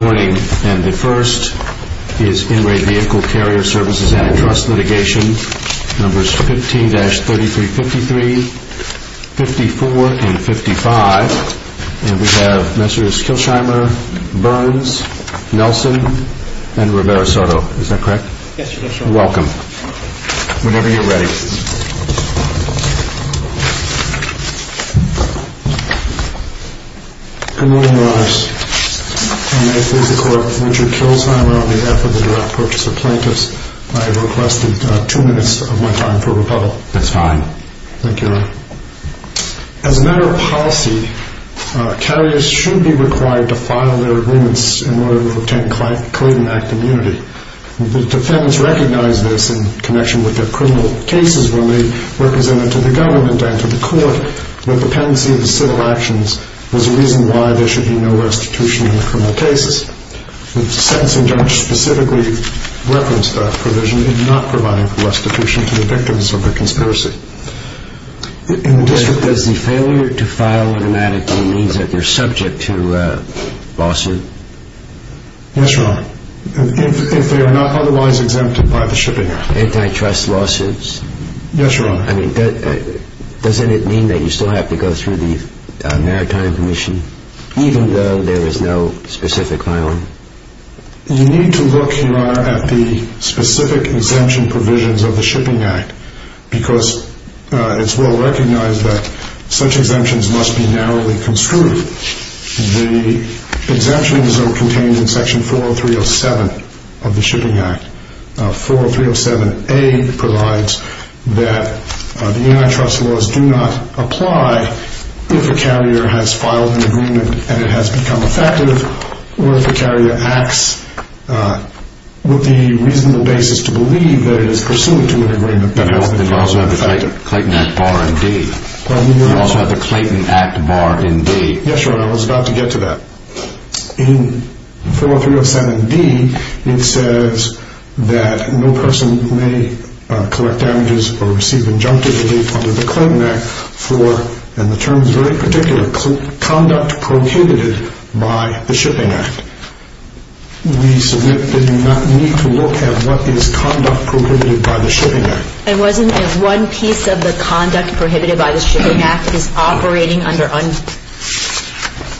Good morning, and the first is In Re Vehicle Carrier Services Antitrust Litigation, numbers 15-3353, 54, and 55. And we have Messrs. Kilsheimer, Burns, Nelson, and Rivera-Soto. Is that correct? Yes, sir. Welcome. Whenever you're ready. Good morning, Your Honors. I may please the Court, Mr. Kilsheimer, on behalf of the Direct Purchase of Plaintiffs, I have requested two minutes of my time for rebuttal. That's fine. Thank you, Your Honor. As a matter of policy, carriers should be required to file their agreements in order to obtain Clayton Act immunity. The defendants recognized this in connection with their criminal cases when they represented to the government and to the Court that the pendency of the civil actions was a reason why there should be no restitution in the criminal cases. The sentencing judge specifically referenced that provision in not providing restitution to the victims of the conspiracy. Does the failure to file an attorney means that they're subject to lawsuit? Yes, Your Honor, if they are not otherwise exempted by the Shipping Act. Antitrust lawsuits? Yes, Your Honor. I mean, doesn't it mean that you still have to go through the Maritime Commission, even though there is no specific filing? You need to look, Your Honor, at the specific exemption provisions of the Shipping Act, because it's well recognized that such exemptions must be narrowly construed. The exemption is contained in Section 40307 of the Shipping Act. 40307A provides that the antitrust laws do not apply if a carrier has filed an agreement and it has become effective or if the carrier acts with the reasonable basis to believe that it is pursuant to an agreement that has been effective. You also have the Clayton Act bar in D. Yes, Your Honor, I was about to get to that. In 40307D, it says that no person may collect damages or receive injunctive relief under the Clayton Act for, and the term is very particular, conduct prohibited by the Shipping Act. We submit that you need to look at what is conduct prohibited by the Shipping Act. And wasn't it one piece of the conduct prohibited by the Shipping Act is operating under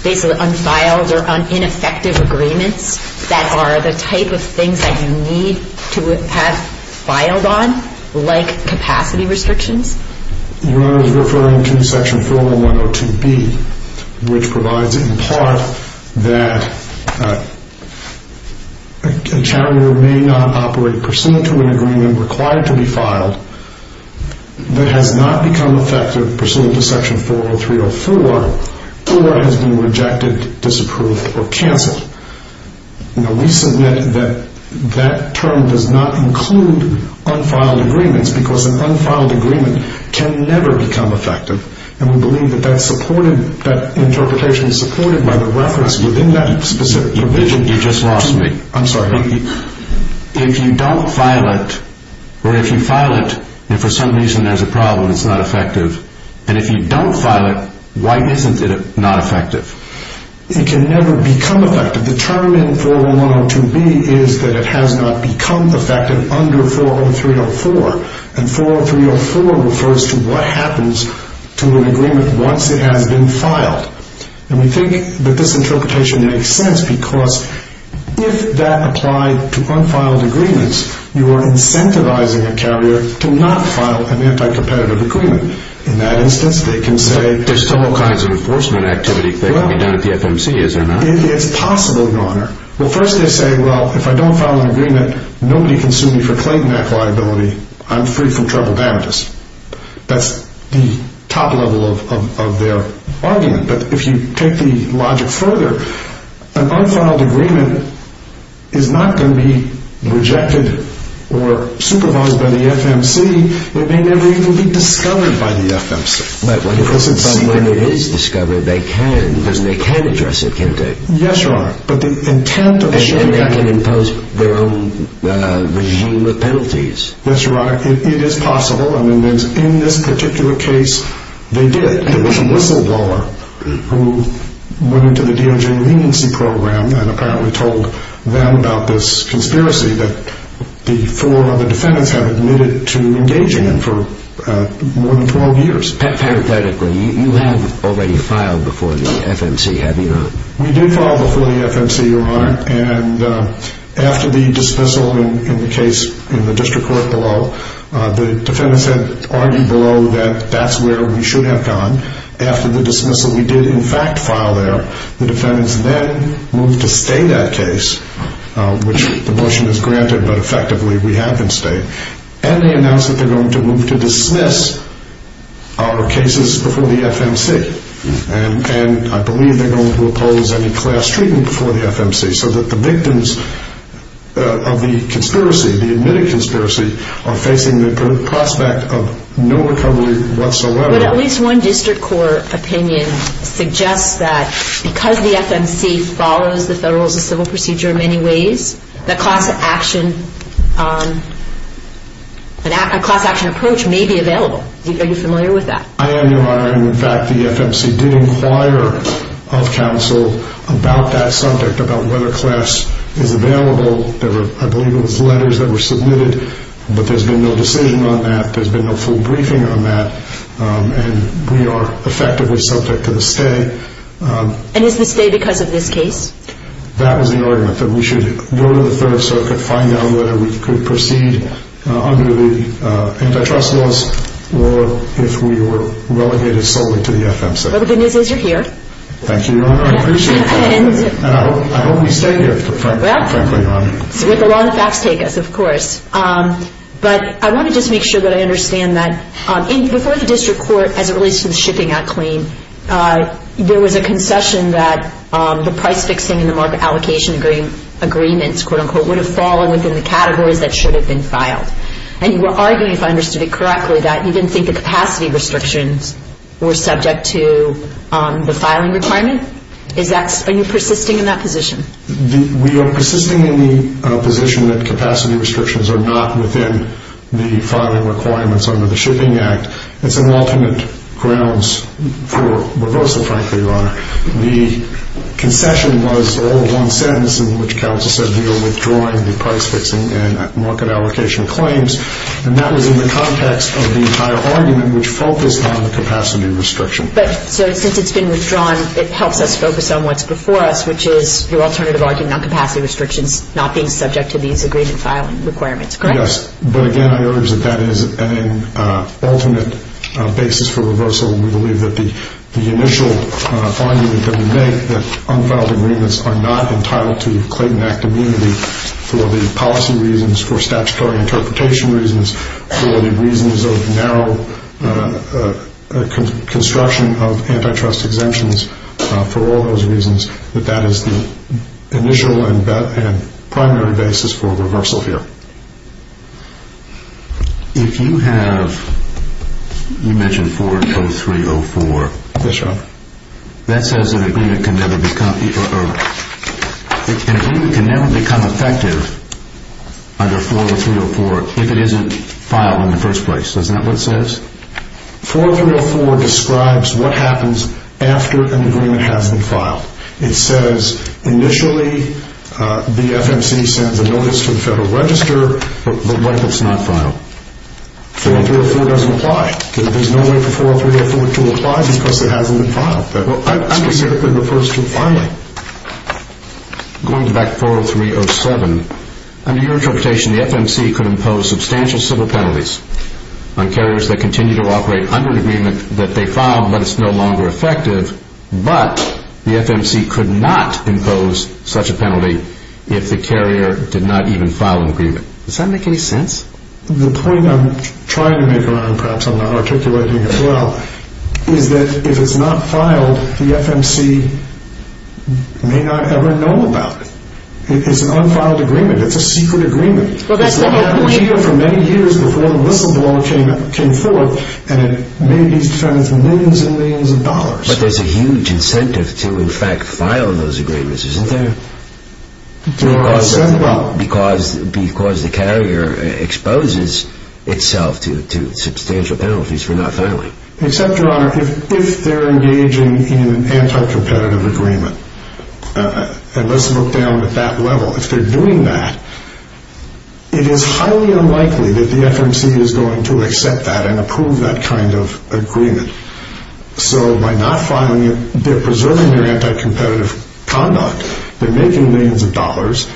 basically unfiled or ineffective agreements that are the type of things that you need to have filed on, like capacity restrictions? Your Honor, I was referring to Section 40102B, which provides in part that a carrier may not operate pursuant to an agreement required to be filed that has not become effective pursuant to Section 40304 or has been rejected, disapproved, or canceled. We submit that that term does not include unfiled agreements because an unfiled agreement can never become effective. And we believe that that interpretation is supported by the reference within that specific provision. You just lost me. I'm sorry. If you don't file it or if you file it and for some reason there's a problem, it's not effective, and if you don't file it, why isn't it not effective? It can never become effective. The term in 40102B is that it has not become effective under 40304. And 40304 refers to what happens to an agreement once it has been filed. And we think that this interpretation makes sense because if that applied to unfiled agreements, you are incentivizing a carrier to not file an anti-competitive agreement. In that instance, they can say there's still all kinds of enforcement activity that can be done at the FMC, is there not? It's possible, Your Honor. Well, first they say, well, if I don't file an agreement, nobody can sue me for Clayton Act liability. I'm free from trouble damages. That's the top level of their argument. But if you take the logic further, an unfiled agreement is not going to be rejected or supervised by the FMC. It may never even be discovered by the FMC. But when it is discovered, they can. Yes, Your Honor. And they can impose their own regime of penalties. Yes, Your Honor. It is possible. I mean, in this particular case, they did. It was Whistleblower who went into the DOJ leniency program and apparently told them about this conspiracy that the four other defendants have admitted to engaging in for more than 12 years. Pathetically, you have already filed before the FMC, have you not? We did file before the FMC, Your Honor. And after the dismissal in the case in the district court below, the defendants had argued below that that's where we should have gone. After the dismissal, we did in fact file there. The defendants then moved to stay that case, which the motion has granted, but effectively we have been staying. And they announced that they're going to move to dismiss our cases before the FMC. And I believe they're going to oppose any class treatment before the FMC so that the victims of the conspiracy, the admitted conspiracy, are facing the prospect of no recovery whatsoever. But at least one district court opinion suggests that because the FMC follows the Federal Rules of Civil Procedure in many ways, the class action approach may be available. Are you familiar with that? I am, Your Honor. In fact, the FMC did inquire of counsel about that subject, about whether class is available. I believe it was letters that were submitted, but there's been no decision on that. There's been no full briefing on that. And we are effectively subject to the stay. And is the stay because of this case? That was the argument, that we should go to the Third Circuit, whether we could proceed under the antitrust laws or if we were relegated solely to the FMC. Well, the good news is you're here. Thank you, Your Honor. I appreciate that. And I hope we stay here, frankly, Your Honor. With the law and the facts take us, of course. But I want to just make sure that I understand that. Before the district court, as it relates to the Shipping Act claim, there was a concession that the price fixing and the market allocation agreements, quote-unquote, would have fallen within the categories that should have been filed. And you were arguing, if I understood it correctly, that you didn't think the capacity restrictions were subject to the filing requirement? Are you persisting in that position? We are persisting in the position that capacity restrictions are not within the filing requirements under the Shipping Act. It's an alternate grounds for reversal, frankly, Your Honor. The concession was all one sentence in which counsel said we are withdrawing the price fixing and market allocation claims. And that was in the context of the entire argument, which focused on the capacity restriction. But since it's been withdrawn, it helps us focus on what's before us, which is your alternative argument on capacity restrictions not being subject to these agreement filing requirements, correct? Yes. But again, I urge that that is an ultimate basis for reversal. We believe that the initial argument that we make, that unfiled agreements are not entitled to Clayton Act immunity for the policy reasons, for statutory interpretation reasons, for the reasons of narrow construction of antitrust exemptions, for all those reasons, that that is the initial and primary basis for reversal here. If you have, you mentioned 4.0304. Yes, Your Honor. That says that an agreement can never become effective under 4.0304 if it isn't filed in the first place. Is that what it says? 4.0304 describes what happens after an agreement has been filed. It says initially the FMC sends a notice to the Federal Register, but what if it's not filed? 4.0304 doesn't apply. There's no way for 4.0304 to apply because it hasn't been filed. That specifically refers to filing. Going back to 4.0307, under your interpretation, the FMC could impose substantial civil penalties on carriers that continue to operate under an agreement that they filed, but it's no longer effective. But the FMC could not impose such a penalty if the carrier did not even file an agreement. Does that make any sense? The point I'm trying to make, perhaps I'm not articulating it well, is that if it's not filed, the FMC may not ever know about it. It's an unfiled agreement. It's a secret agreement. It's not happened here for many years before the whistleblower came forth, and it may be defended for millions and millions of dollars. But there's a huge incentive to, in fact, file those agreements, isn't there? Because the carrier exposes itself to substantial penalties for not filing. Except, Your Honor, if they're engaging in an anti-competitive agreement. And let's look down at that level. If they're doing that, it is highly unlikely that the FMC is going to accept that and approve that kind of agreement. So by not filing it, they're preserving their anti-competitive conduct. They're making millions of dollars.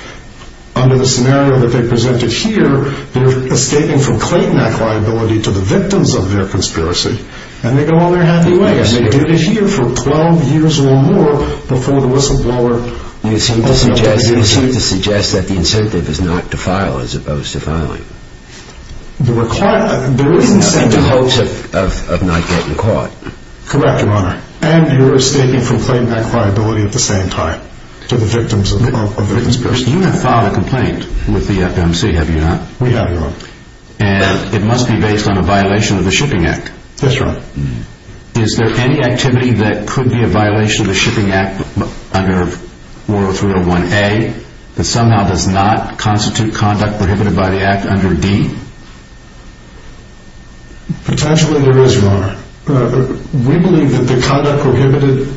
Under the scenario that they presented here, they're escaping from Clayton Act liability to the victims of their conspiracy. And they go on their happy way. And they do it here for 12 years or more before the whistleblower... You seem to suggest that the incentive is not to file as opposed to filing. There is incentive. In the hopes of not getting caught. Correct, Your Honor. And you're escaping from Clayton Act liability at the same time to the victims of conspiracy. You have filed a complaint with the FMC, have you not? We have, Your Honor. And it must be based on a violation of the Shipping Act. That's right. Is there any activity that could be a violation of the Shipping Act under 40301A that somehow does not constitute conduct prohibited by the Act under D? Potentially there is, Your Honor. We believe that the conduct prohibited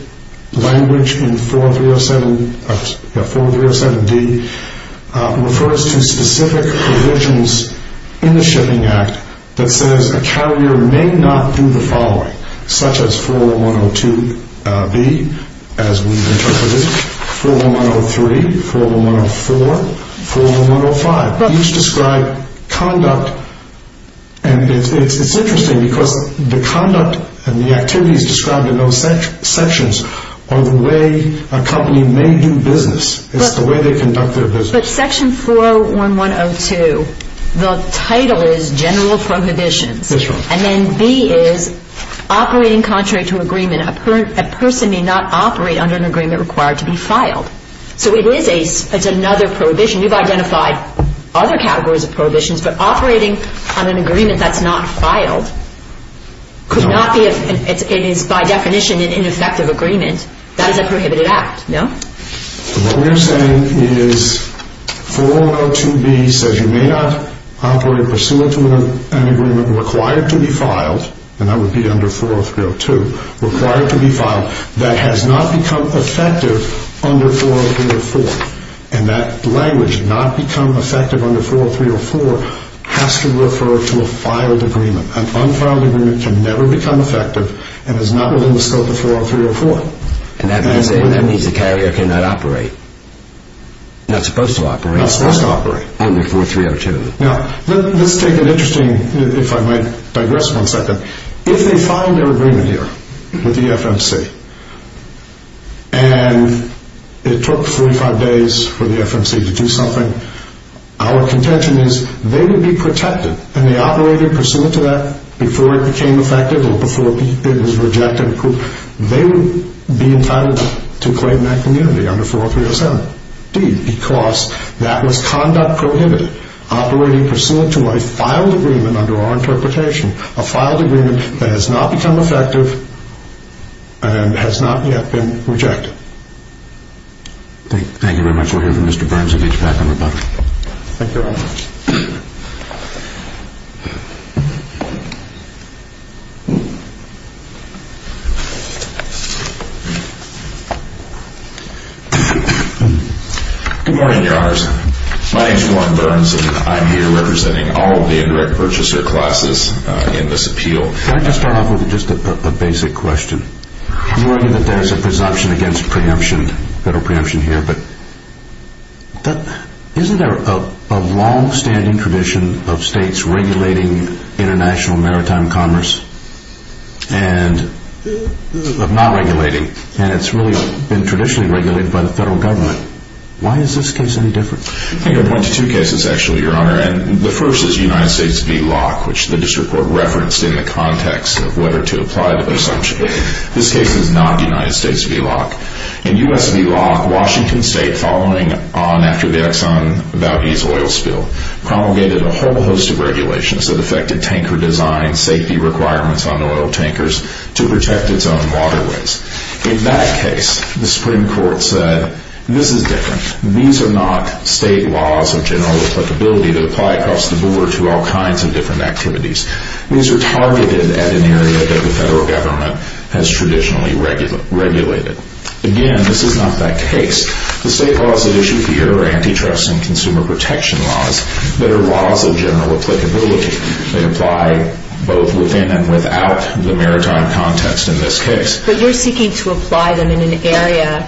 language in 40307D refers to specific provisions in the Shipping Act that says a carrier may not do the following, such as 401102B, as we interpret it, 401103, 401104, 401105. Each describe conduct. And it's interesting because the conduct and the activities described in those sections are the way a company may do business. It's the way they conduct their business. But Section 401102, the title is General Prohibitions. That's right. And then B is Operating Contrary to Agreement. A person may not operate under an agreement required to be filed. So it is another prohibition. You've identified other categories of prohibitions, but operating on an agreement that's not filed could not be, it is by definition an ineffective agreement. That is a prohibited act, no? What we're saying is 4102B says you may not operate pursuant to an agreement required to be filed, and that would be under 40302, required to be filed that has not become effective under 40304. And that language, not become effective under 40304, has to refer to a filed agreement. An unfiled agreement can never become effective and is not within the scope of 40304. And that means the carrier cannot operate. Not supposed to operate. Not supposed to operate. Under 40302. Now, let's take an interesting, if I might digress one second. If they filed their agreement here with the FMC and it took 45 days for the FMC to do something, our contention is they would be protected, and they operated pursuant to that before it became effective or before it was rejected. They would be entitled to claim that community under 40307. Indeed, because that was conduct prohibited, operating pursuant to a filed agreement under our interpretation, a filed agreement that has not become effective and has not yet been rejected. Thank you very much. We'll hear from Mr. Bramsevich back in a moment. Thank you very much. Good morning, Your Honors. My name is Warren Bramsevich. I'm here representing all of the indirect purchaser classes in this appeal. Can I just start off with just a basic question? I'm worried that there's a presumption against preemption, federal preemption here, but isn't there a long-standing tradition of states regulating international maritime commerce? And of not regulating, and it's really been traditionally regulated by the federal government. Why is this case any different? I can point to two cases, actually, Your Honor, and the first is United States v. Locke, which the district court referenced in the context of whether to apply the presumption. This case is not United States v. Locke. In U.S. v. Locke, Washington State, following on after the Exxon Valdez oil spill, promulgated a whole host of regulations that affected tanker design, safety requirements on oil tankers, to protect its own waterways. In that case, the Supreme Court said, this is different. These are not state laws of general applicability that apply across the board to all kinds of different activities. These are targeted at an area that the federal government has traditionally regulated. Again, this is not that case. The state laws at issue here are antitrust and consumer protection laws that are laws of general applicability. They apply both within and without the maritime context in this case. But you're seeking to apply them in an area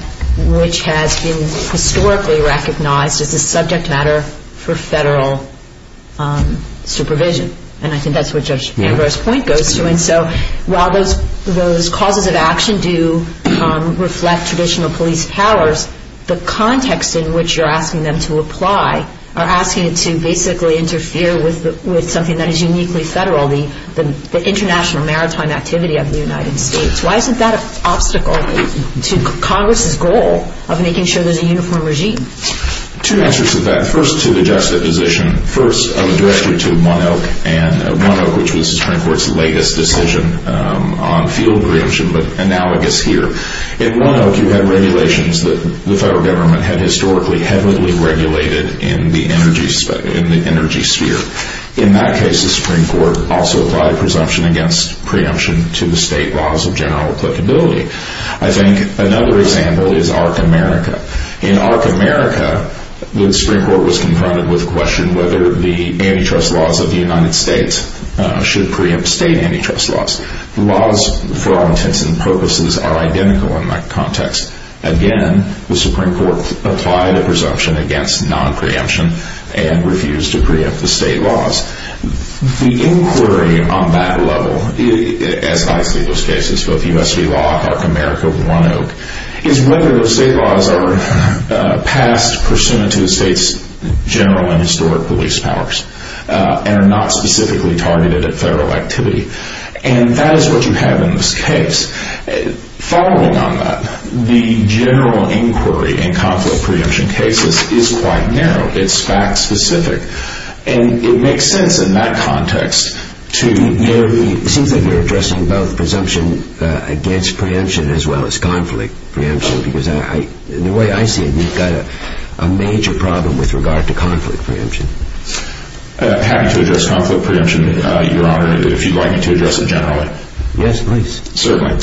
which has been historically recognized as a subject matter for federal supervision. And I think that's what Judge Ambrose's point goes to. And so while those causes of action do reflect traditional police powers, the context in which you're asking them to apply are asking it to basically interfere with something that is uniquely federal, the international maritime activity of the United States. Why isn't that an obstacle to Congress's goal of making sure there's a uniform regime? Two answers to that. First, to the juxtaposition. First, I'll address you to 1 Oak. And 1 Oak, which was the Supreme Court's latest decision on field preemption, but analogous here. In 1 Oak, you had regulations that the federal government had historically heavily regulated in the energy sphere. In that case, the Supreme Court also applied a presumption against preemption to the state laws of general applicability. I think another example is ARC America. In ARC America, the Supreme Court was confronted with the question whether the antitrust laws of the United States should preempt state antitrust laws. The laws, for all intents and purposes, are identical in that context. Again, the Supreme Court applied a presumption against non-preemption and refused to preempt the state laws. The inquiry on that level, as I see those cases, both U.S. v. law, ARC America, 1 Oak, is whether those state laws are passed pursuant to the state's general and historic police powers and are not specifically targeted at federal activity. And that is what you have in this case. Following on that, the general inquiry in conflict preemption cases is quite narrow. It's fact-specific. And it makes sense in that context to narrow the... It seems like you're addressing both presumption against preemption as well as conflict preemption, because the way I see it, you've got a major problem with regard to conflict preemption. I'm happy to address conflict preemption, Your Honor, if you'd like me to address it generally. Yes, please. Certainly.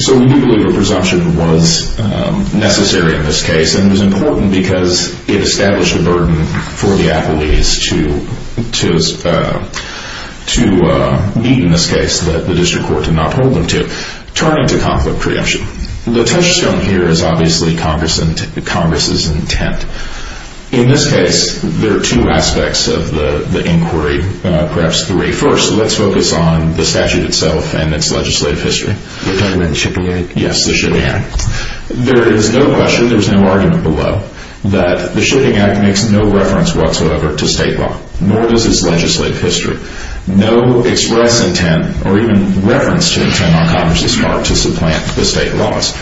So we do believe a presumption was necessary in this case, and it was important because it established a burden for the appellees to meet in this case that the district court did not hold them to. Turning to conflict preemption, the touchstone here is obviously Congress's intent. In this case, there are two aspects of the inquiry, perhaps three. First, let's focus on the statute itself and its legislative history. You're talking about the Shipping Act? Yes, the Shipping Act. There is no question, there's no argument below, that the Shipping Act makes no reference whatsoever to state law, nor does its legislative history. No express intent or even reference to intent on Congress's part to supplant the state laws.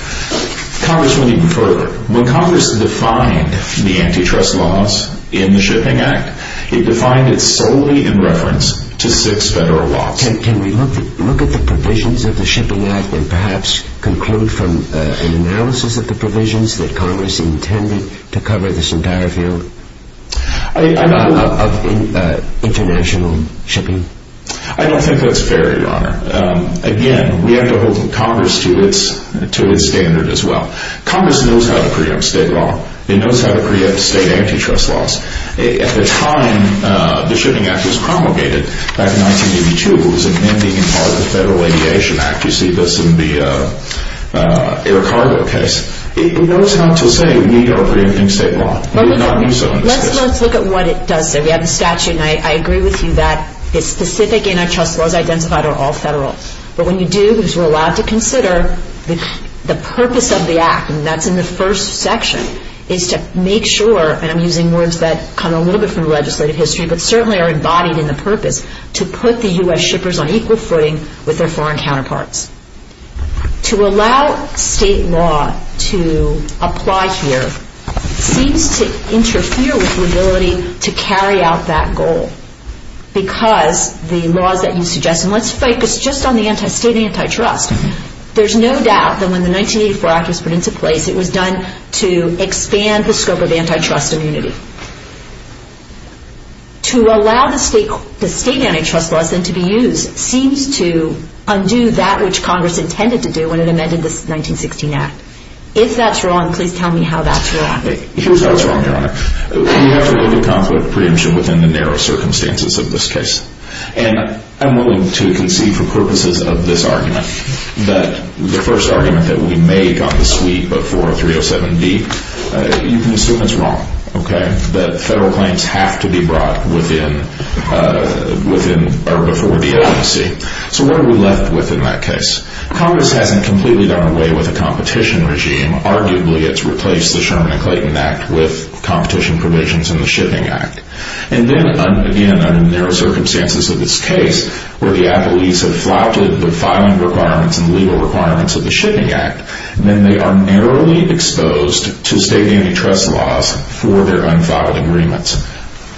Congress went even further. When Congress defined the antitrust laws in the Shipping Act, it defined it solely in reference to six federal laws. Can we look at the provisions of the Shipping Act and perhaps conclude from an analysis of the provisions that Congress intended to cover this entire field of international shipping? I don't think that's fair, Your Honor. Again, we have to hold Congress to its standard as well. Congress knows how to preempt state law. It knows how to preempt state antitrust laws. At the time the Shipping Act was promulgated, back in 1982, it was amending part of the Federal Aviation Act. You see this in the air cargo case. It knows how to say we are preempting state law. Let's look at what it does say. We have the statute, and I agree with you that the specific antitrust laws identified are all federal. But when you do, because we're allowed to consider, the purpose of the Act, and that's in the first section, is to make sure, and I'm using words that come a little bit from legislative history, but certainly are embodied in the purpose, to put the U.S. shippers on equal footing with their foreign counterparts. To allow state law to apply here seems to interfere with the ability to carry out that goal because the laws that you suggest, and let's focus just on the state antitrust, there's no doubt that when the 1984 Act was put into place, it was done to expand the scope of antitrust immunity. To allow the state antitrust laws then to be used seems to undo that which Congress intended to do when it amended the 1916 Act. If that's wrong, please tell me how that's wrong. Here's how it's wrong, Your Honor. We have to look at conflict preemption within the narrow circumstances of this case. And I'm willing to concede for purposes of this argument that the first argument that we make on the sweep of 40307D, you can assume it's wrong, okay? That federal claims have to be brought before the agency. So what are we left with in that case? Congress hasn't completely done away with the competition regime. Arguably, it's replaced the Sherman and Clayton Act with competition provisions in the Shipping Act. And then, again, under the narrow circumstances of this case, where the appellees have flouted the filing requirements and legal requirements of the Shipping Act, then they are narrowly exposed to state antitrust laws for their unfiled agreements.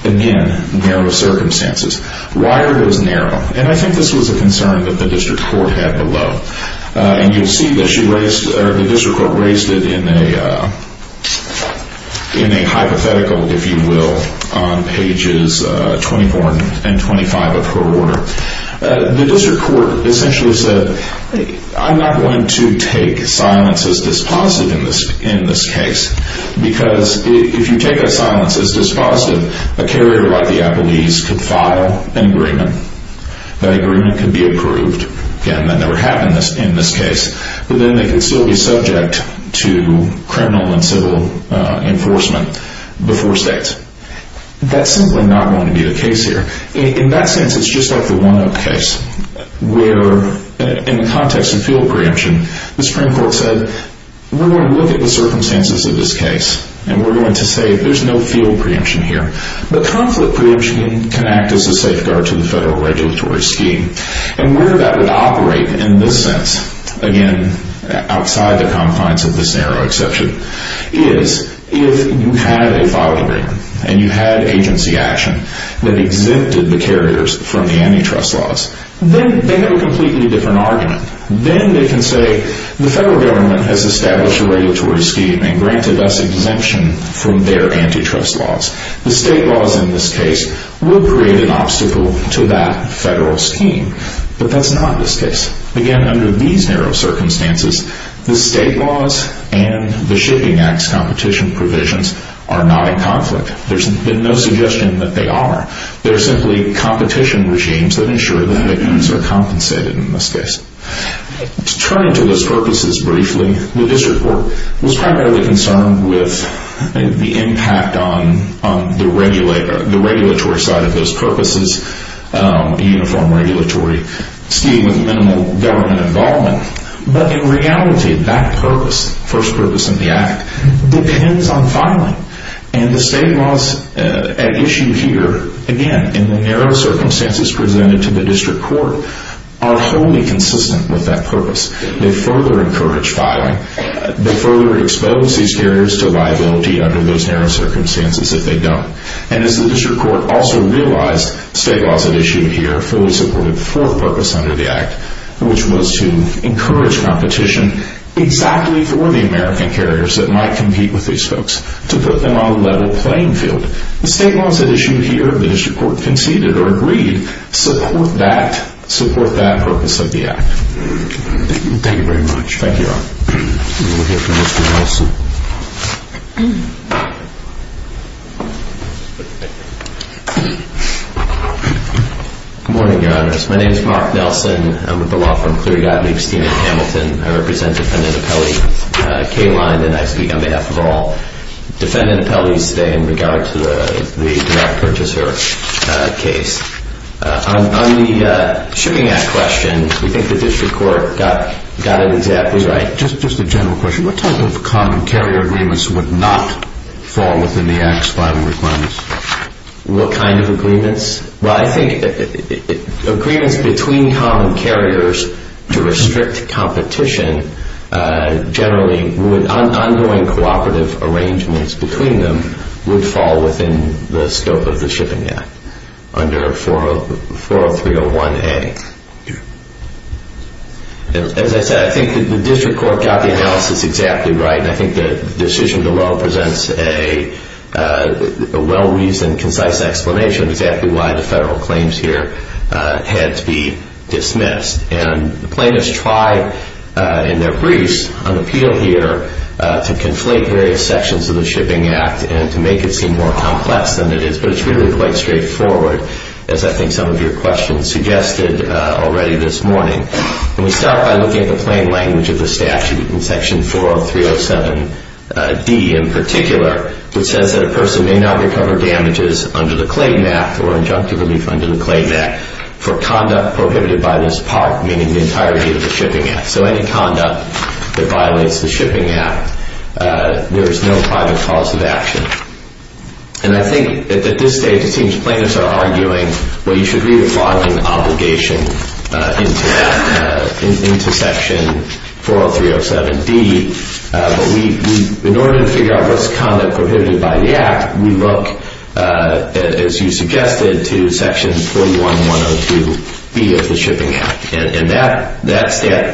Again, narrow circumstances. Why are those narrow? And I think this was a concern that the district court had below. And you'll see that the district court raised it in a hypothetical, if you will, on pages 24 and 25 of her order. The district court essentially said, I'm not going to take silence as dispositive in this case. Because if you take a silence as dispositive, a carrier like the appellees could file an agreement. That agreement could be approved. Again, that never happened in this case. But then they could still be subject to criminal and civil enforcement before state. That's simply not going to be the case here. In that sense, it's just like the one-up case where in the context of field preemption, the Supreme Court said, we're going to look at the circumstances of this case and we're going to say there's no field preemption here. But conflict preemption can act as a safeguard to the federal regulatory scheme. And where that would operate in this sense, again, outside the confines of this narrow exception, is if you had a file agreement and you had agency action that exempted the carriers from the antitrust laws, then they have a completely different argument. Then they can say, the federal government has established a regulatory scheme and granted us exemption from their antitrust laws. The state laws in this case would create an obstacle to that federal scheme. But that's not this case. Again, under these narrow circumstances, the state laws and the Shipping Act's competition provisions are not in conflict. There's been no suggestion that they are. They're simply competition regimes that ensure that victims are compensated in this case. To turn to those purposes briefly, the district court was primarily concerned with the impact on the regulatory side of those purposes, a uniform regulatory scheme with minimal government involvement. But in reality, that purpose, first purpose in the Act, depends on filing. And the state laws at issue here, again, in the narrow circumstances presented to the district court, are wholly consistent with that purpose. They further encourage filing. They further expose these carriers to liability under those narrow circumstances if they don't. And as the district court also realized, state laws at issue here fully supported the fourth purpose under the Act, which was to encourage competition exactly for the American carriers that might compete with these folks, to put them on a level playing field. The state laws at issue here, the district court conceded or agreed, support that purpose of the Act. Thank you very much. Thank you, Your Honor. We'll hear from Mr. Nelson. Good morning, Your Honor. My name is Mark Nelson. I'm with the law firm Cleary Gottlieb Steen and Hamilton. I represent Defendant Appellee K-Line. And I speak on behalf of all Defendant Appellees today in regard to the direct purchaser case. On the Shooting Act question, we think the district court got it exactly right. Just a general question. What type of common carrier agreements would not fall within the Act's filing requirements? What kind of agreements? Well, I think agreements between common carriers to restrict competition generally, ongoing cooperative arrangements between them, would fall within the scope of the Shipping Act under 40301A. As I said, I think the district court got the analysis exactly right, and I think the decision below presents a well-reasoned, concise explanation of exactly why the federal claims here had to be dismissed. And plaintiffs tried in their briefs on appeal here to conflate various sections of the Shipping Act and to make it seem more complex than it is. But it's really quite straightforward, as I think some of your questions suggested already this morning. And we start by looking at the plain language of the statute in section 40307D in particular, which says that a person may not recover damages under the Clayton Act or injunctive relief under the Clayton Act for conduct prohibited by this part, meaning the entirety of the Shipping Act. So any conduct that violates the Shipping Act, there is no private cause of action. And I think at this stage it seems plaintiffs are arguing, well, you should read the following obligation into section 40307D. But in order to figure out what's conduct prohibited by the Act, we look, as you suggested, to section 41102B of the Shipping Act. And that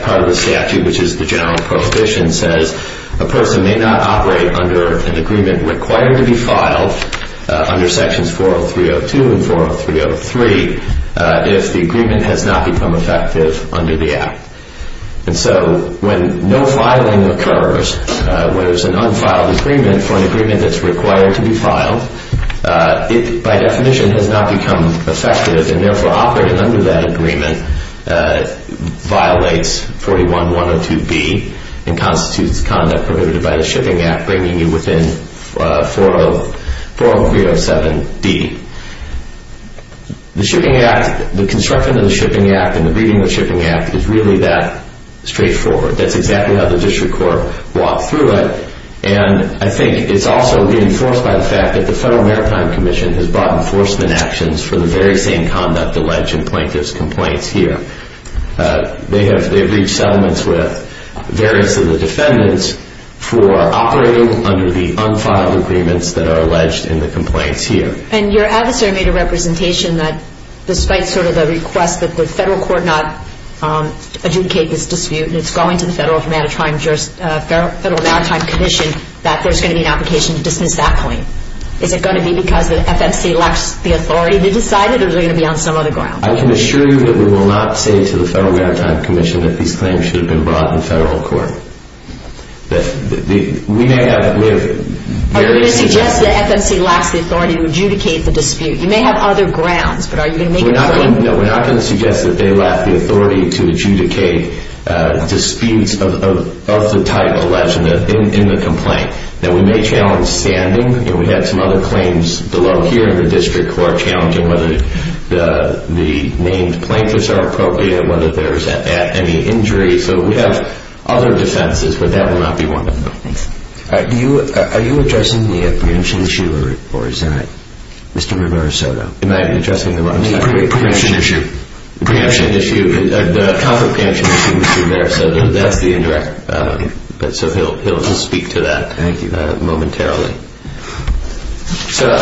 part of the statute, which is the general prohibition, says a person may not operate under an agreement required to be filed under sections 40302 and 40303 if the agreement has not become effective under the Act. And so when no filing occurs, when there's an unfiled agreement for an agreement that's required to be filed, it by definition has not become effective and therefore operating under that agreement violates 41102B and constitutes conduct prohibited by the Shipping Act, bringing you within 40307D. The Shipping Act, the construction of the Shipping Act, and the reading of the Shipping Act is really that straightforward. That's exactly how the District Court walked through it. And I think it's also reinforced by the fact that the Federal Maritime Commission has brought enforcement actions for the very same conduct alleged in plaintiff's complaints here. They have reached settlements with various of the defendants for operating under the unfiled agreements that are alleged in the complaints here. And your adversary made a representation that, despite sort of the request that the Federal Court not adjudicate this dispute, and it's going to the Federal Maritime Commission, that there's going to be an application to dismiss that claim. Is it going to be because the FMC lacks the authority to decide it or is it going to be on some other ground? I can assure you that we will not say to the Federal Maritime Commission that these claims should have been brought to the Federal Court. We may have various suggestions. Are you going to suggest that FMC lacks the authority to adjudicate the dispute? You may have other grounds, but are you going to make a point? No, we're not going to suggest that they lack the authority to adjudicate disputes of the type alleged in the complaint. Now, we may challenge standing, and we have some other claims below here in the District Court challenging whether the named plaintiffs are appropriate and whether there is any injury. So we have other defenses, but that will not be one of them. Thanks. Are you addressing the preemption issue, or is that Mr. Rivera-Soto? Am I addressing the wrong side? The preemption issue. The preemption issue. The proper preemption issue, Mr. Rivera-Soto. That's the indirect. So he'll just speak to that momentarily. Thank you. So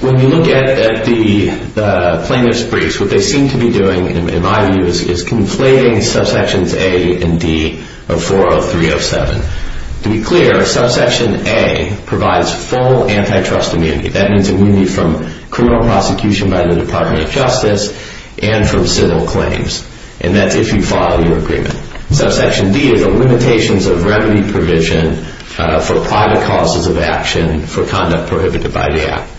when you look at the plaintiffs' briefs, what they seem to be doing, in my view, is conflating subsections A and D of 40307. To be clear, subsection A provides full antitrust immunity. That means immunity from criminal prosecution by the Department of Justice and from civil claims, and that's if you file your agreement. Subsection D is the limitations of remedy provision for private causes of action for conduct prohibited by the Act.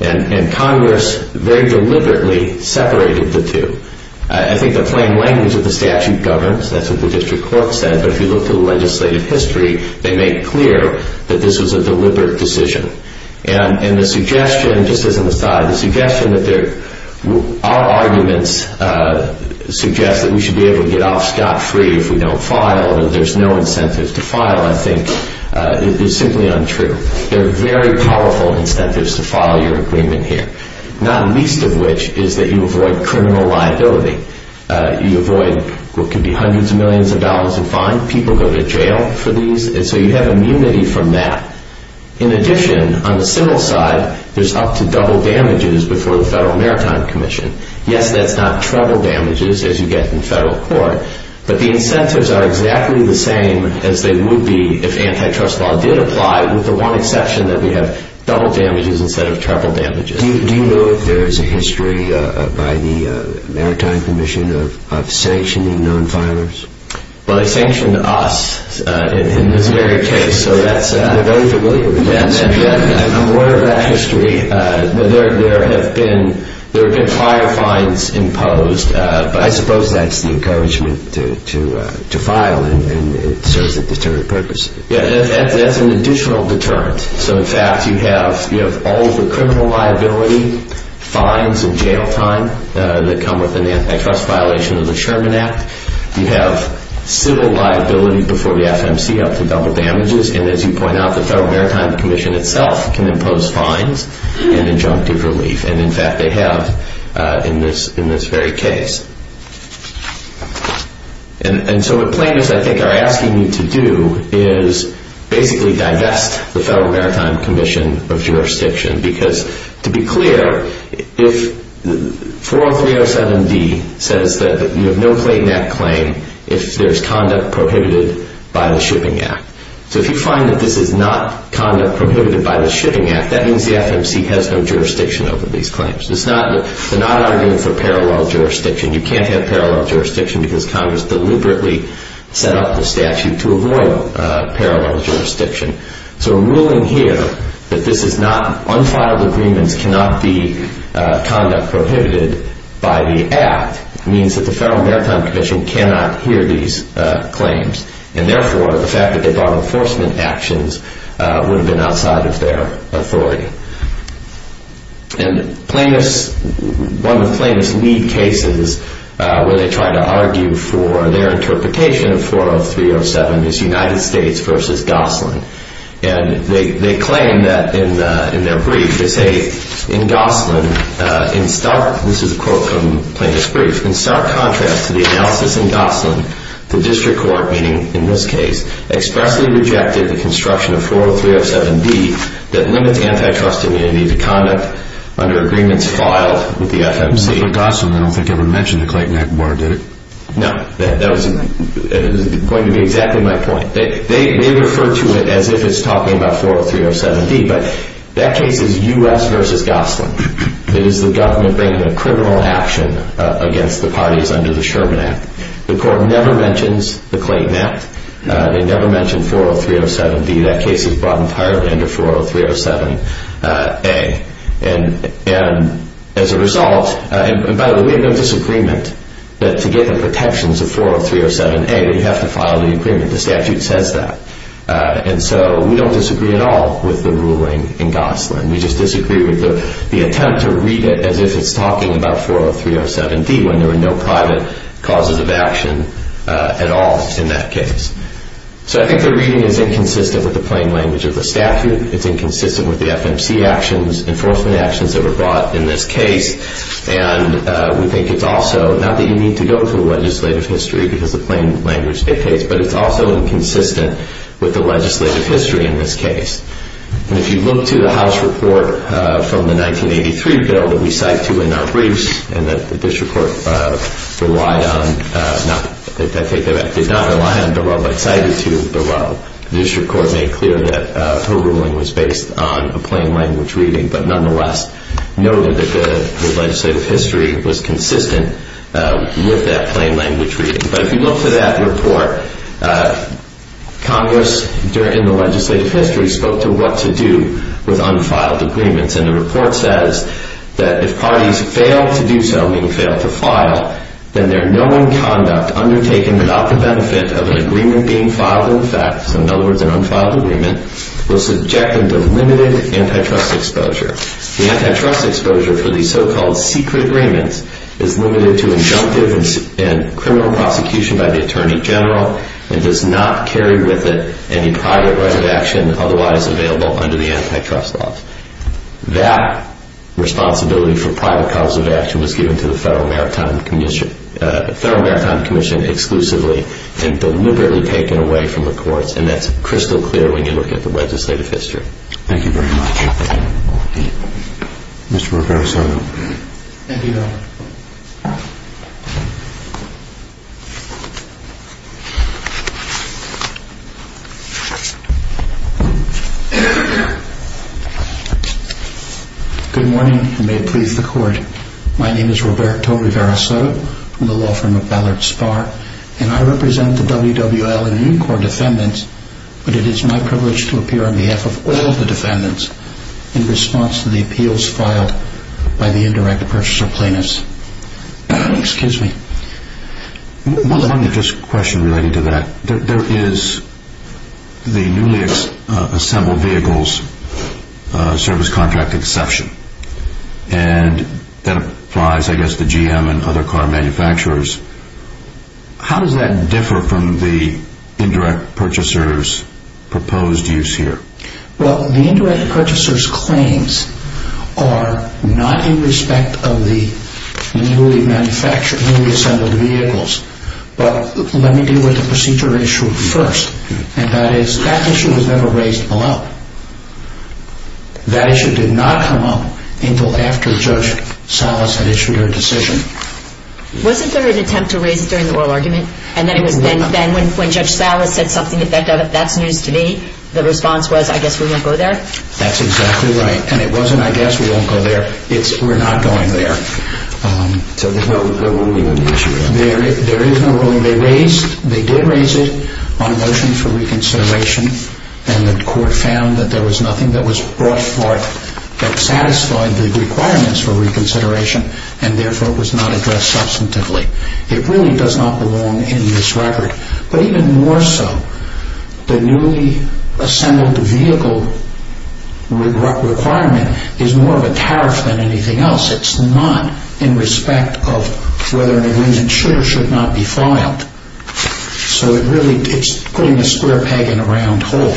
And Congress very deliberately separated the two. I think the plain language of the statute governs. That's what the district court said. But if you look at the legislative history, they make clear that this was a deliberate decision. And the suggestion, just as an aside, the suggestion that our arguments suggest that we should be able to get off scot-free if we don't file, that there's no incentive to file, I think is simply untrue. There are very powerful incentives to file your agreement here, not least of which is that you avoid criminal liability. You avoid what could be hundreds of millions of dollars in fines. People go to jail for these. And so you have immunity from that. In addition, on the civil side, there's up to double damages before the Federal Maritime Commission. Yes, that's not treble damages as you get in federal court, but the incentives are exactly the same as they would be if antitrust law did apply, with the one exception that we have double damages instead of treble damages. Do you know if there is a history by the Maritime Commission of sanctioning non-filers? Well, they sanctioned us in this very case, so that's very familiar. I'm aware of that history. There have been prior fines imposed. I suppose that's the encouragement to file, and it serves a deterrent purpose. Yes, that's an additional deterrent. So, in fact, you have all the criminal liability fines and jail time that come with an antitrust violation of the Sherman Act. You have civil liability before the FMC up to double damages. And as you point out, the Federal Maritime Commission itself can impose fines and injunctive relief. And, in fact, they have in this very case. And so what plaintiffs, I think, are asking you to do is basically divest the Federal Maritime Commission of jurisdiction because, to be clear, 40307d says that you have no plaintiff claim if there is conduct prohibited by the Shipping Act. So if you find that this is not conduct prohibited by the Shipping Act, that means the FMC has no jurisdiction over these claims. They're not arguing for parallel jurisdiction. You can't have parallel jurisdiction because Congress deliberately set up the statute to avoid parallel jurisdiction. So ruling here that this is not unfiled agreements cannot be conduct prohibited by the Act means that the Federal Maritime Commission cannot hear these claims. And, therefore, the fact that they brought enforcement actions would have been outside of their authority. And plaintiffs, one of the plaintiffs' lead cases where they try to argue for their interpretation of 40307 is United States v. Gosling. And they claim that in their brief, they say, in Gosling, in stark, this is a quote from the plaintiff's brief, in stark contrast to the analysis in Gosling, the district court, meaning in this case, expressly rejected the construction of 40307D that limits antitrust immunity to conduct under agreements filed with the FMC. You said Gosling. I don't think you ever mentioned the Clayton Act bar, did you? No. That was going to be exactly my point. They refer to it as if it's talking about 40307D, but that case is U.S. v. Gosling. It is the government bringing a criminal action against the parties under the Sherman Act. The court never mentions the Clayton Act. They never mention 40307D. That case is brought entirely under 40307A. And, as a result, and, by the way, we have no disagreement that to get the protections of 40307A, we have to file the agreement. The statute says that. And so we don't disagree at all with the ruling in Gosling. We just disagree with the attempt to read it as if it's talking about 40307D when there are no private causes of action at all in that case. So I think the reading is inconsistent with the plain language of the statute. It's inconsistent with the FMC actions, enforcement actions that were brought in this case. And we think it's also, not that you need to go through legislative history because the plain language dictates, but it's also inconsistent with the legislative history in this case. And if you look to the House report from the 1983 bill that we cite to in our briefs and that the district court relied on, I think did not rely on, but cited to, the district court made clear that her ruling was based on a plain language reading, but nonetheless noted that the legislative history was consistent with that plain language reading. But if you look to that report, Congress, in the legislative history, spoke to what to do with unfiled agreements. And the report says that if parties fail to do so, meaning fail to file, then their known conduct undertaken without the benefit of an agreement being filed in effect, so in other words, an unfiled agreement, will subject them to limited antitrust exposure. The antitrust exposure for these so-called secret agreements is limited to injunctive and criminal prosecution by the Attorney General and does not carry with it any private right of action otherwise available under the antitrust laws. That responsibility for private cause of action was given to the Federal Maritime Commission exclusively and deliberately taken away from the courts, and that's crystal clear when you look at the legislative history. Thank you very much. Mr. Rivera-Soto. Thank you, Your Honor. Good morning, and may it please the Court. My name is Roberto Rivera-Soto from the law firm of Ballard Spahr, and I represent the WWL and Marine Corps defendants, but it is my privilege to appear on behalf of all the defendants in response to the appeals filed by the indirect purchaser plaintiffs. Excuse me. One question related to that. There is the newly assembled vehicles service contract exception, and that applies, I guess, to GM and other car manufacturers. How does that differ from the indirect purchaser's proposed use here? Well, the indirect purchaser's claims are not in respect of the newly assembled vehicles, but let me deal with the procedure issue first, and that is that issue was never raised below. That issue did not come up until after Judge Salas had issued her decision. Wasn't there an attempt to raise it during the oral argument, and then when Judge Salas said something that that's news to me, the response was, I guess we won't go there? That's exactly right, and it wasn't, I guess we won't go there. It's, we're not going there. So there's no ruling on the issue? There is no ruling. They did raise it on a motion for reconsideration, and the Court found that there was nothing that was brought forth that satisfied the requirements for reconsideration, and therefore it was not addressed substantively. It really does not belong in this record. But even more so, the newly assembled vehicle requirement is more of a tariff than anything else. It's not in respect of whether an agreement should or should not be filed. So it really, it's putting a square peg in a round hole.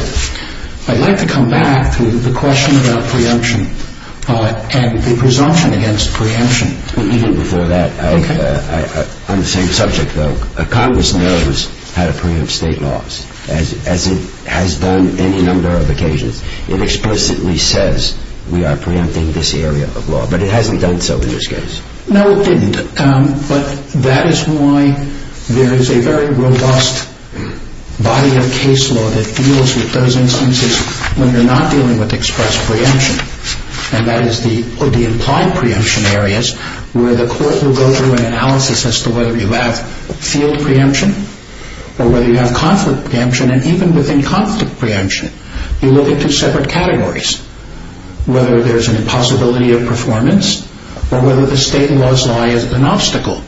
I'd like to come back to the question about preemption and the presumption against preemption. Even before that, on the same subject, though, Congress knows how to preempt state laws, as it has done any number of occasions. It explicitly says we are preempting this area of law, but it hasn't done so in this case. No, it didn't, but that is why there is a very robust body of case law that deals with those instances when you're not dealing with express preemption, and that is the implied preemption areas, where the Court will go through an analysis as to whether you have field preemption or whether you have conflict preemption. And even within conflict preemption, you look at two separate categories, whether there's an impossibility of performance or whether the state laws lie as an obstacle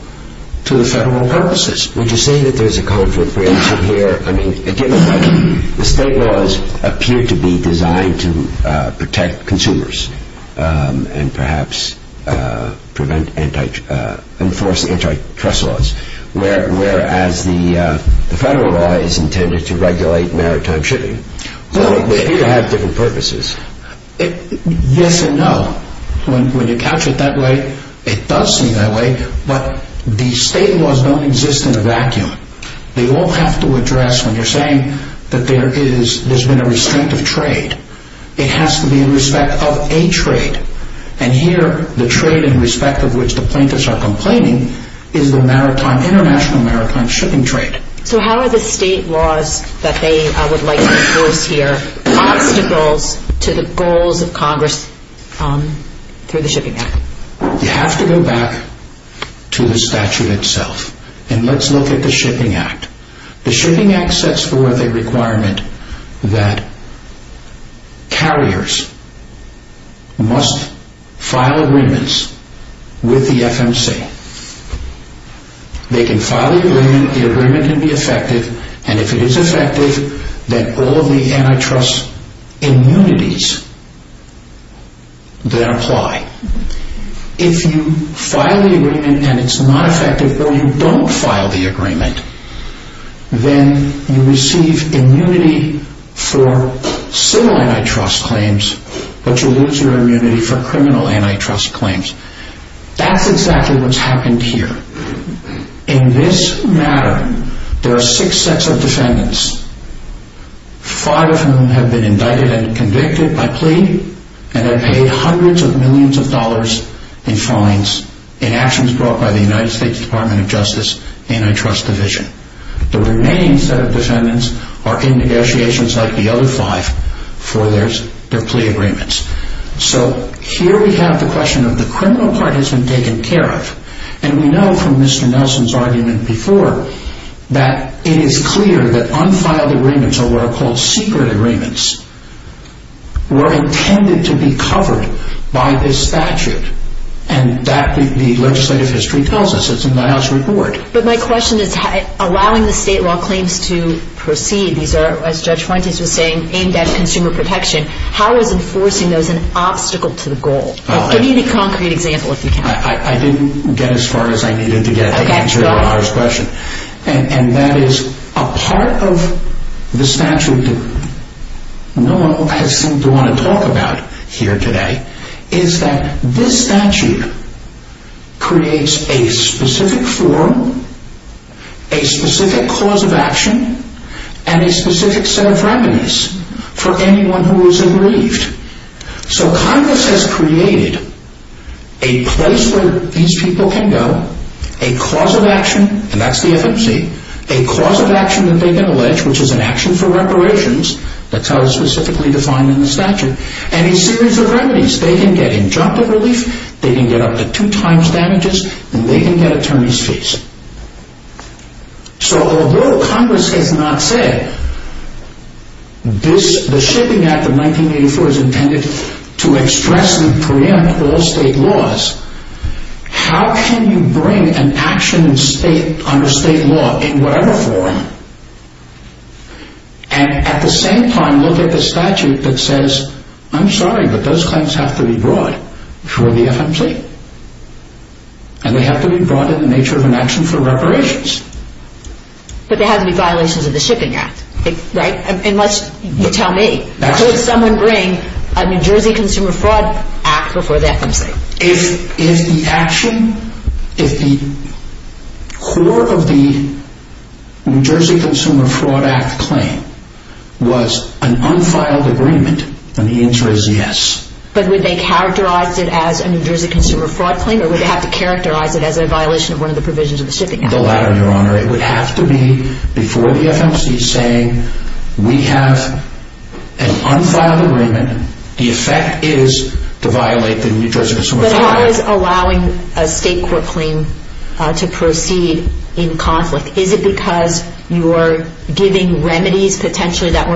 to the federal purposes. Would you say that there's a conflict preemption here? I mean, given that the state laws appear to be designed to protect consumers and perhaps enforce antitrust laws, whereas the federal law is intended to regulate maritime shipping, they appear to have different purposes. Yes and no. When you capture it that way, it does seem that way, but the state laws don't exist in a vacuum. They all have to address, when you're saying that there's been a restraint of trade, it has to be in respect of a trade, and here the trade in respect of which the plaintiffs are complaining is the international maritime shipping trade. So how are the state laws that they would like to enforce here obstacles to the goals of Congress through the Shipping Act? You have to go back to the statute itself, and let's look at the Shipping Act. The Shipping Act sets forth a requirement that carriers must file agreements with the FMC. They can file the agreement, the agreement can be effective, and if it is effective, then all of the antitrust immunities then apply. If you file the agreement and it's not effective, or you don't file the agreement, then you receive immunity for civil antitrust claims, but you lose your immunity for criminal antitrust claims. That's exactly what's happened here. In this matter, there are six sets of defendants, five of whom have been indicted and convicted by plea, and have paid hundreds of millions of dollars in fines in actions brought by the United States Department of Justice Antitrust Division. The remaining set of defendants are in negotiations like the other five for their plea agreements. So here we have the question of the criminal part has been taken care of, and we know from Mr. Nelson's argument before that it is clear that unfiled agreements, or what are called secret agreements, were intended to be covered by this statute, and that the legislative history tells us. It's in Niles' report. But my question is, allowing the state law claims to proceed, these are, as Judge Fuentes was saying, aimed at consumer protection, how is enforcing those an obstacle to the goal? Give me the concrete example, if you can. I didn't get as far as I needed to get to answer your question. And that is a part of the statute that no one has seemed to want to talk about here today is that this statute creates a specific forum, a specific cause of action, and a specific set of remedies for anyone who is unrelieved. So Congress has created a place where these people can go, a cause of action, and that's the FMC, a cause of action that they can allege, which is an action for reparations, that's how it's specifically defined in the statute, and a series of remedies. They can get injunctive relief, they can get up to two times damages, and they can get attorney's fees. So although Congress has not said, the Shipping Act of 1984 is intended to express and preempt all state laws, how can you bring an action on a state law in whatever form, and at the same time look at the statute that says, I'm sorry, but those claims have to be brought before the FMC, and they have to be brought in the nature of an action for reparations. But there have to be violations of the Shipping Act, right? Unless you tell me. So would someone bring a New Jersey Consumer Fraud Act before the FMC? If the action, if the core of the New Jersey Consumer Fraud Act claim was an unfiled agreement, then the answer is yes. But would they characterize it as a New Jersey Consumer Fraud claim, or would they have to characterize it as a violation of one of the provisions of the Shipping Act? The latter, Your Honor. It would have to be before the FMC saying, we have an unfiled agreement. The effect is to violate the New Jersey Consumer Fraud Act. But how is allowing a state court claim to proceed in conflict? Is it because you're giving remedies, potentially, that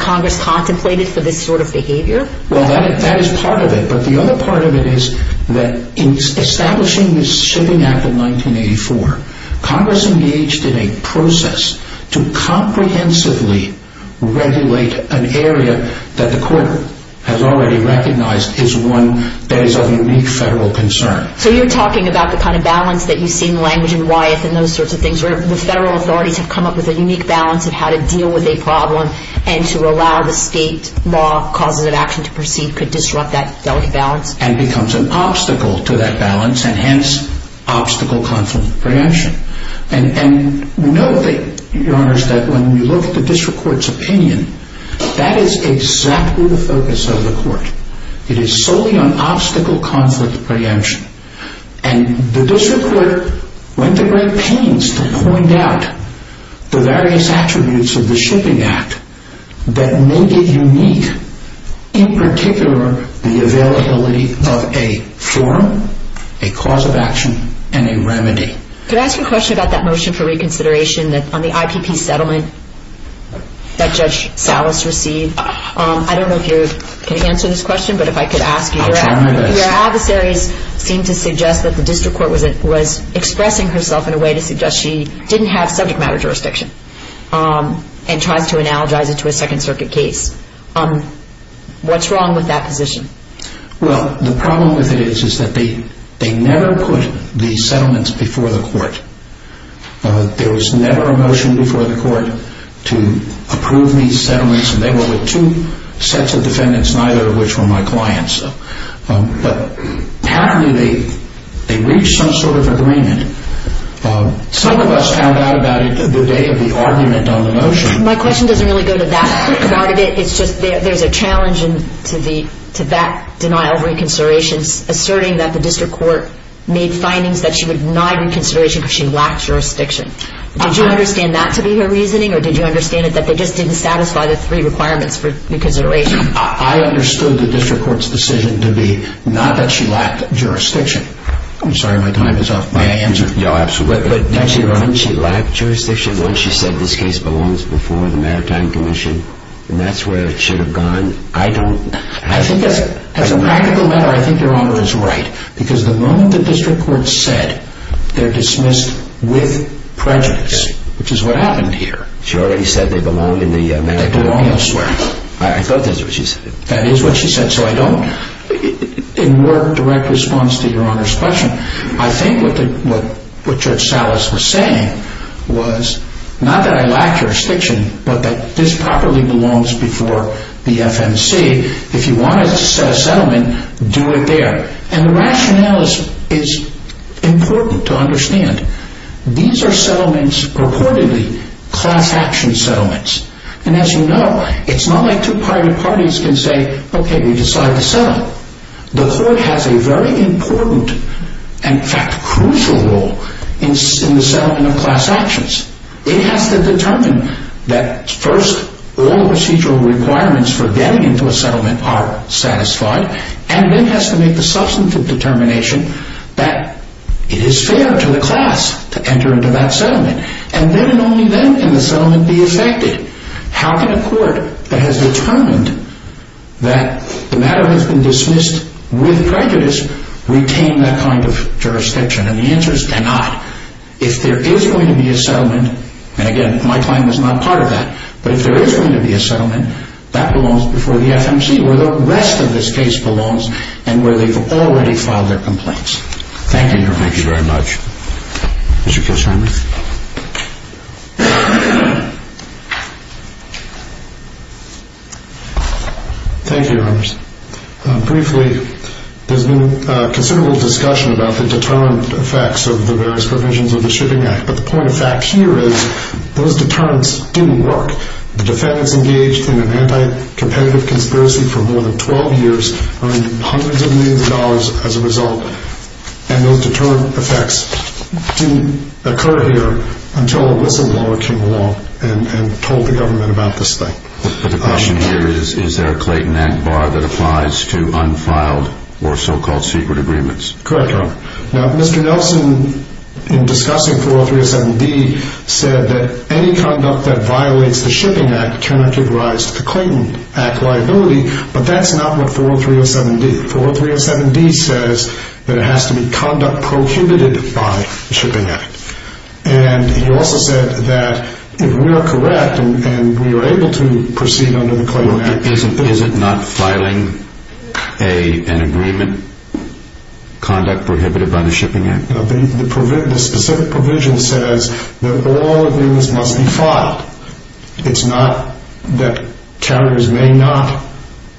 Congress contemplated for this sort of behavior? Well, that is part of it. But the other part of it is that in establishing this Shipping Act in 1984, Congress engaged in a process to comprehensively regulate an area that the court has already recognized is one that is of unique federal concern. So you're talking about the kind of balance that you see in language in Wyeth and those sorts of things where the federal authorities have come up with a unique balance of how to deal with a problem and to allow the state law causes of action to proceed could disrupt that balance. And becomes an obstacle to that balance, and hence, obstacle-conflict preemption. And we know, Your Honors, that when we look at the district court's opinion, that is exactly the focus of the court. It is solely on obstacle-conflict preemption. And the district court went to great pains to point out the various attributes of the Shipping Act that made it unique, in particular, the availability of a forum, a cause of action, and a remedy. Could I ask a question about that motion for reconsideration on the IPP settlement that Judge Salas received? I don't know if you can answer this question, but if I could ask you. I'll try my best. Your adversaries seem to suggest that the district court was expressing herself in a way to suggest she didn't have subject matter jurisdiction and tries to analogize it to a Second Circuit case. What's wrong with that position? Well, the problem with it is that they never put the settlements before the court. There was never a motion before the court to approve these settlements, and they were with two sets of defendants, neither of which were my clients. Apparently, they reached some sort of agreement. Some of us found out about it the day of the argument on the motion. My question doesn't really go to that part of it. It's just there's a challenge to that denial of reconsideration, asserting that the district court made findings that she would deny reconsideration because she lacked jurisdiction. Did you understand that to be her reasoning, or did you understand it that they just didn't satisfy the three requirements for reconsideration? I understood the district court's decision to be not that she lacked jurisdiction. I'm sorry, my time is up. May I answer? Yeah, absolutely. Didn't she lack jurisdiction when she said this case belongs before the Maritime Commission and that's where it should have gone? I think as a practical matter, I think Your Honor is right because the moment the district court said they're dismissed with prejudice, which is what happened here. She already said they belong in the Maritime Commission. They belong elsewhere. I thought that's what she said. That is what she said. So I don't, in more direct response to Your Honor's question, I think what Judge Salas was saying was not that I lack jurisdiction, but that this properly belongs before the FMC. If you want to set a settlement, do it there. And the rationale is important to understand. These are settlements, reportedly, class action settlements. And as you know, it's not like two private parties can say, okay, we decide to settle. The court has a very important, in fact, crucial role in the settlement of class actions. It has to determine that first all the procedural requirements for getting into a settlement are satisfied, and then has to make the substantive determination that it is fair to the class to enter into that settlement. And then only then can the settlement be effected. How can a court that has determined that the matter has been dismissed with prejudice retain that kind of jurisdiction? And the answer is cannot. If there is going to be a settlement, and again, my claim is not part of that, but if there is going to be a settlement, that belongs before the FMC where the rest of this case belongs and where they've already filed their complaints. Thank you, Your Honors. Thank you very much. Mr. Kishheimer. Thank you, Your Honors. Briefly, there's been considerable discussion about the determined effects of the various provisions of the Shipping Act, but the point of fact here is those determinants didn't work. The defendants engaged in an anti-competitive conspiracy for more than 12 years, earned hundreds of millions of dollars as a result, and those determined effects didn't occur here until a whistleblower came along and told the government about this thing. But the question here is, is there a Clayton Act bar that applies to unfiled or so-called secret agreements? Correct, Your Honor. Now, Mr. Nelson, in discussing 40307B, said that any conduct that violates the Shipping Act cannot give rise to Clayton Act liability, but that's not what 40307D. 40307D says that it has to be conduct prohibited by the Shipping Act. And he also said that if we are correct and we are able to proceed under the Clayton Act, isn't not filing an agreement conduct prohibited by the Shipping Act? The specific provision says that all agreements must be filed. It's not that carriers may not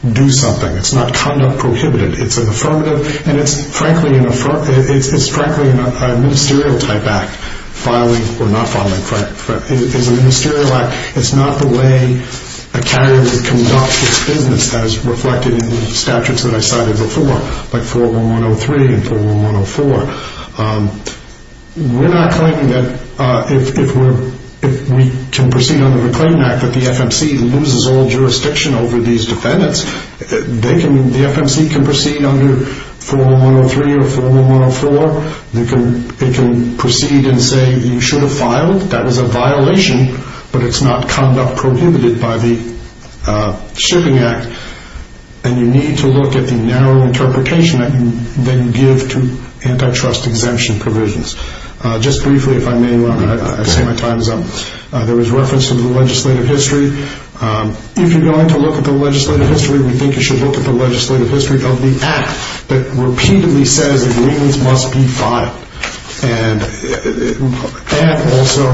do something. It's not conduct prohibited. It's an affirmative, and it's frankly a ministerial-type act. Filing or not filing is a ministerial act. It's not the way a carrier would conduct its business as reflected in the statutes that I cited before, like 41103 and 41104. We're not claiming that if we can proceed under the Clayton Act that the FMC loses all jurisdiction over these defendants. The FMC can proceed under 41103 or 41104. It can proceed and say you should have filed. That is a violation, but it's not conduct prohibited by the Shipping Act. And you need to look at the narrow interpretation that you then give to antitrust exemption provisions. Just briefly, if I may, I'll say my time is up. There was reference to the legislative history. If you're going to look at the legislative history, we think you should look at the legislative history of the act that repeatedly says agreements must be filed. And also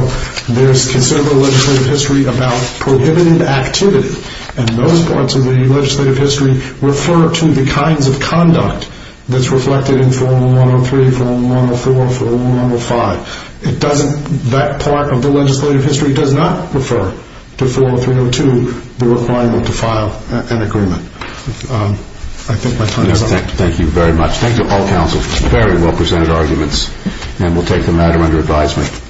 there's considerable legislative history about prohibited activity, and those parts of the legislative history refer to the kinds of conduct that's reflected in 41103, 41104, 41105. That part of the legislative history does not refer to 40302, the requirement to file an agreement. I think my time is up. Thank you very much. Thank you, all counsel. Very well presented arguments, and we'll take the matter under advisement.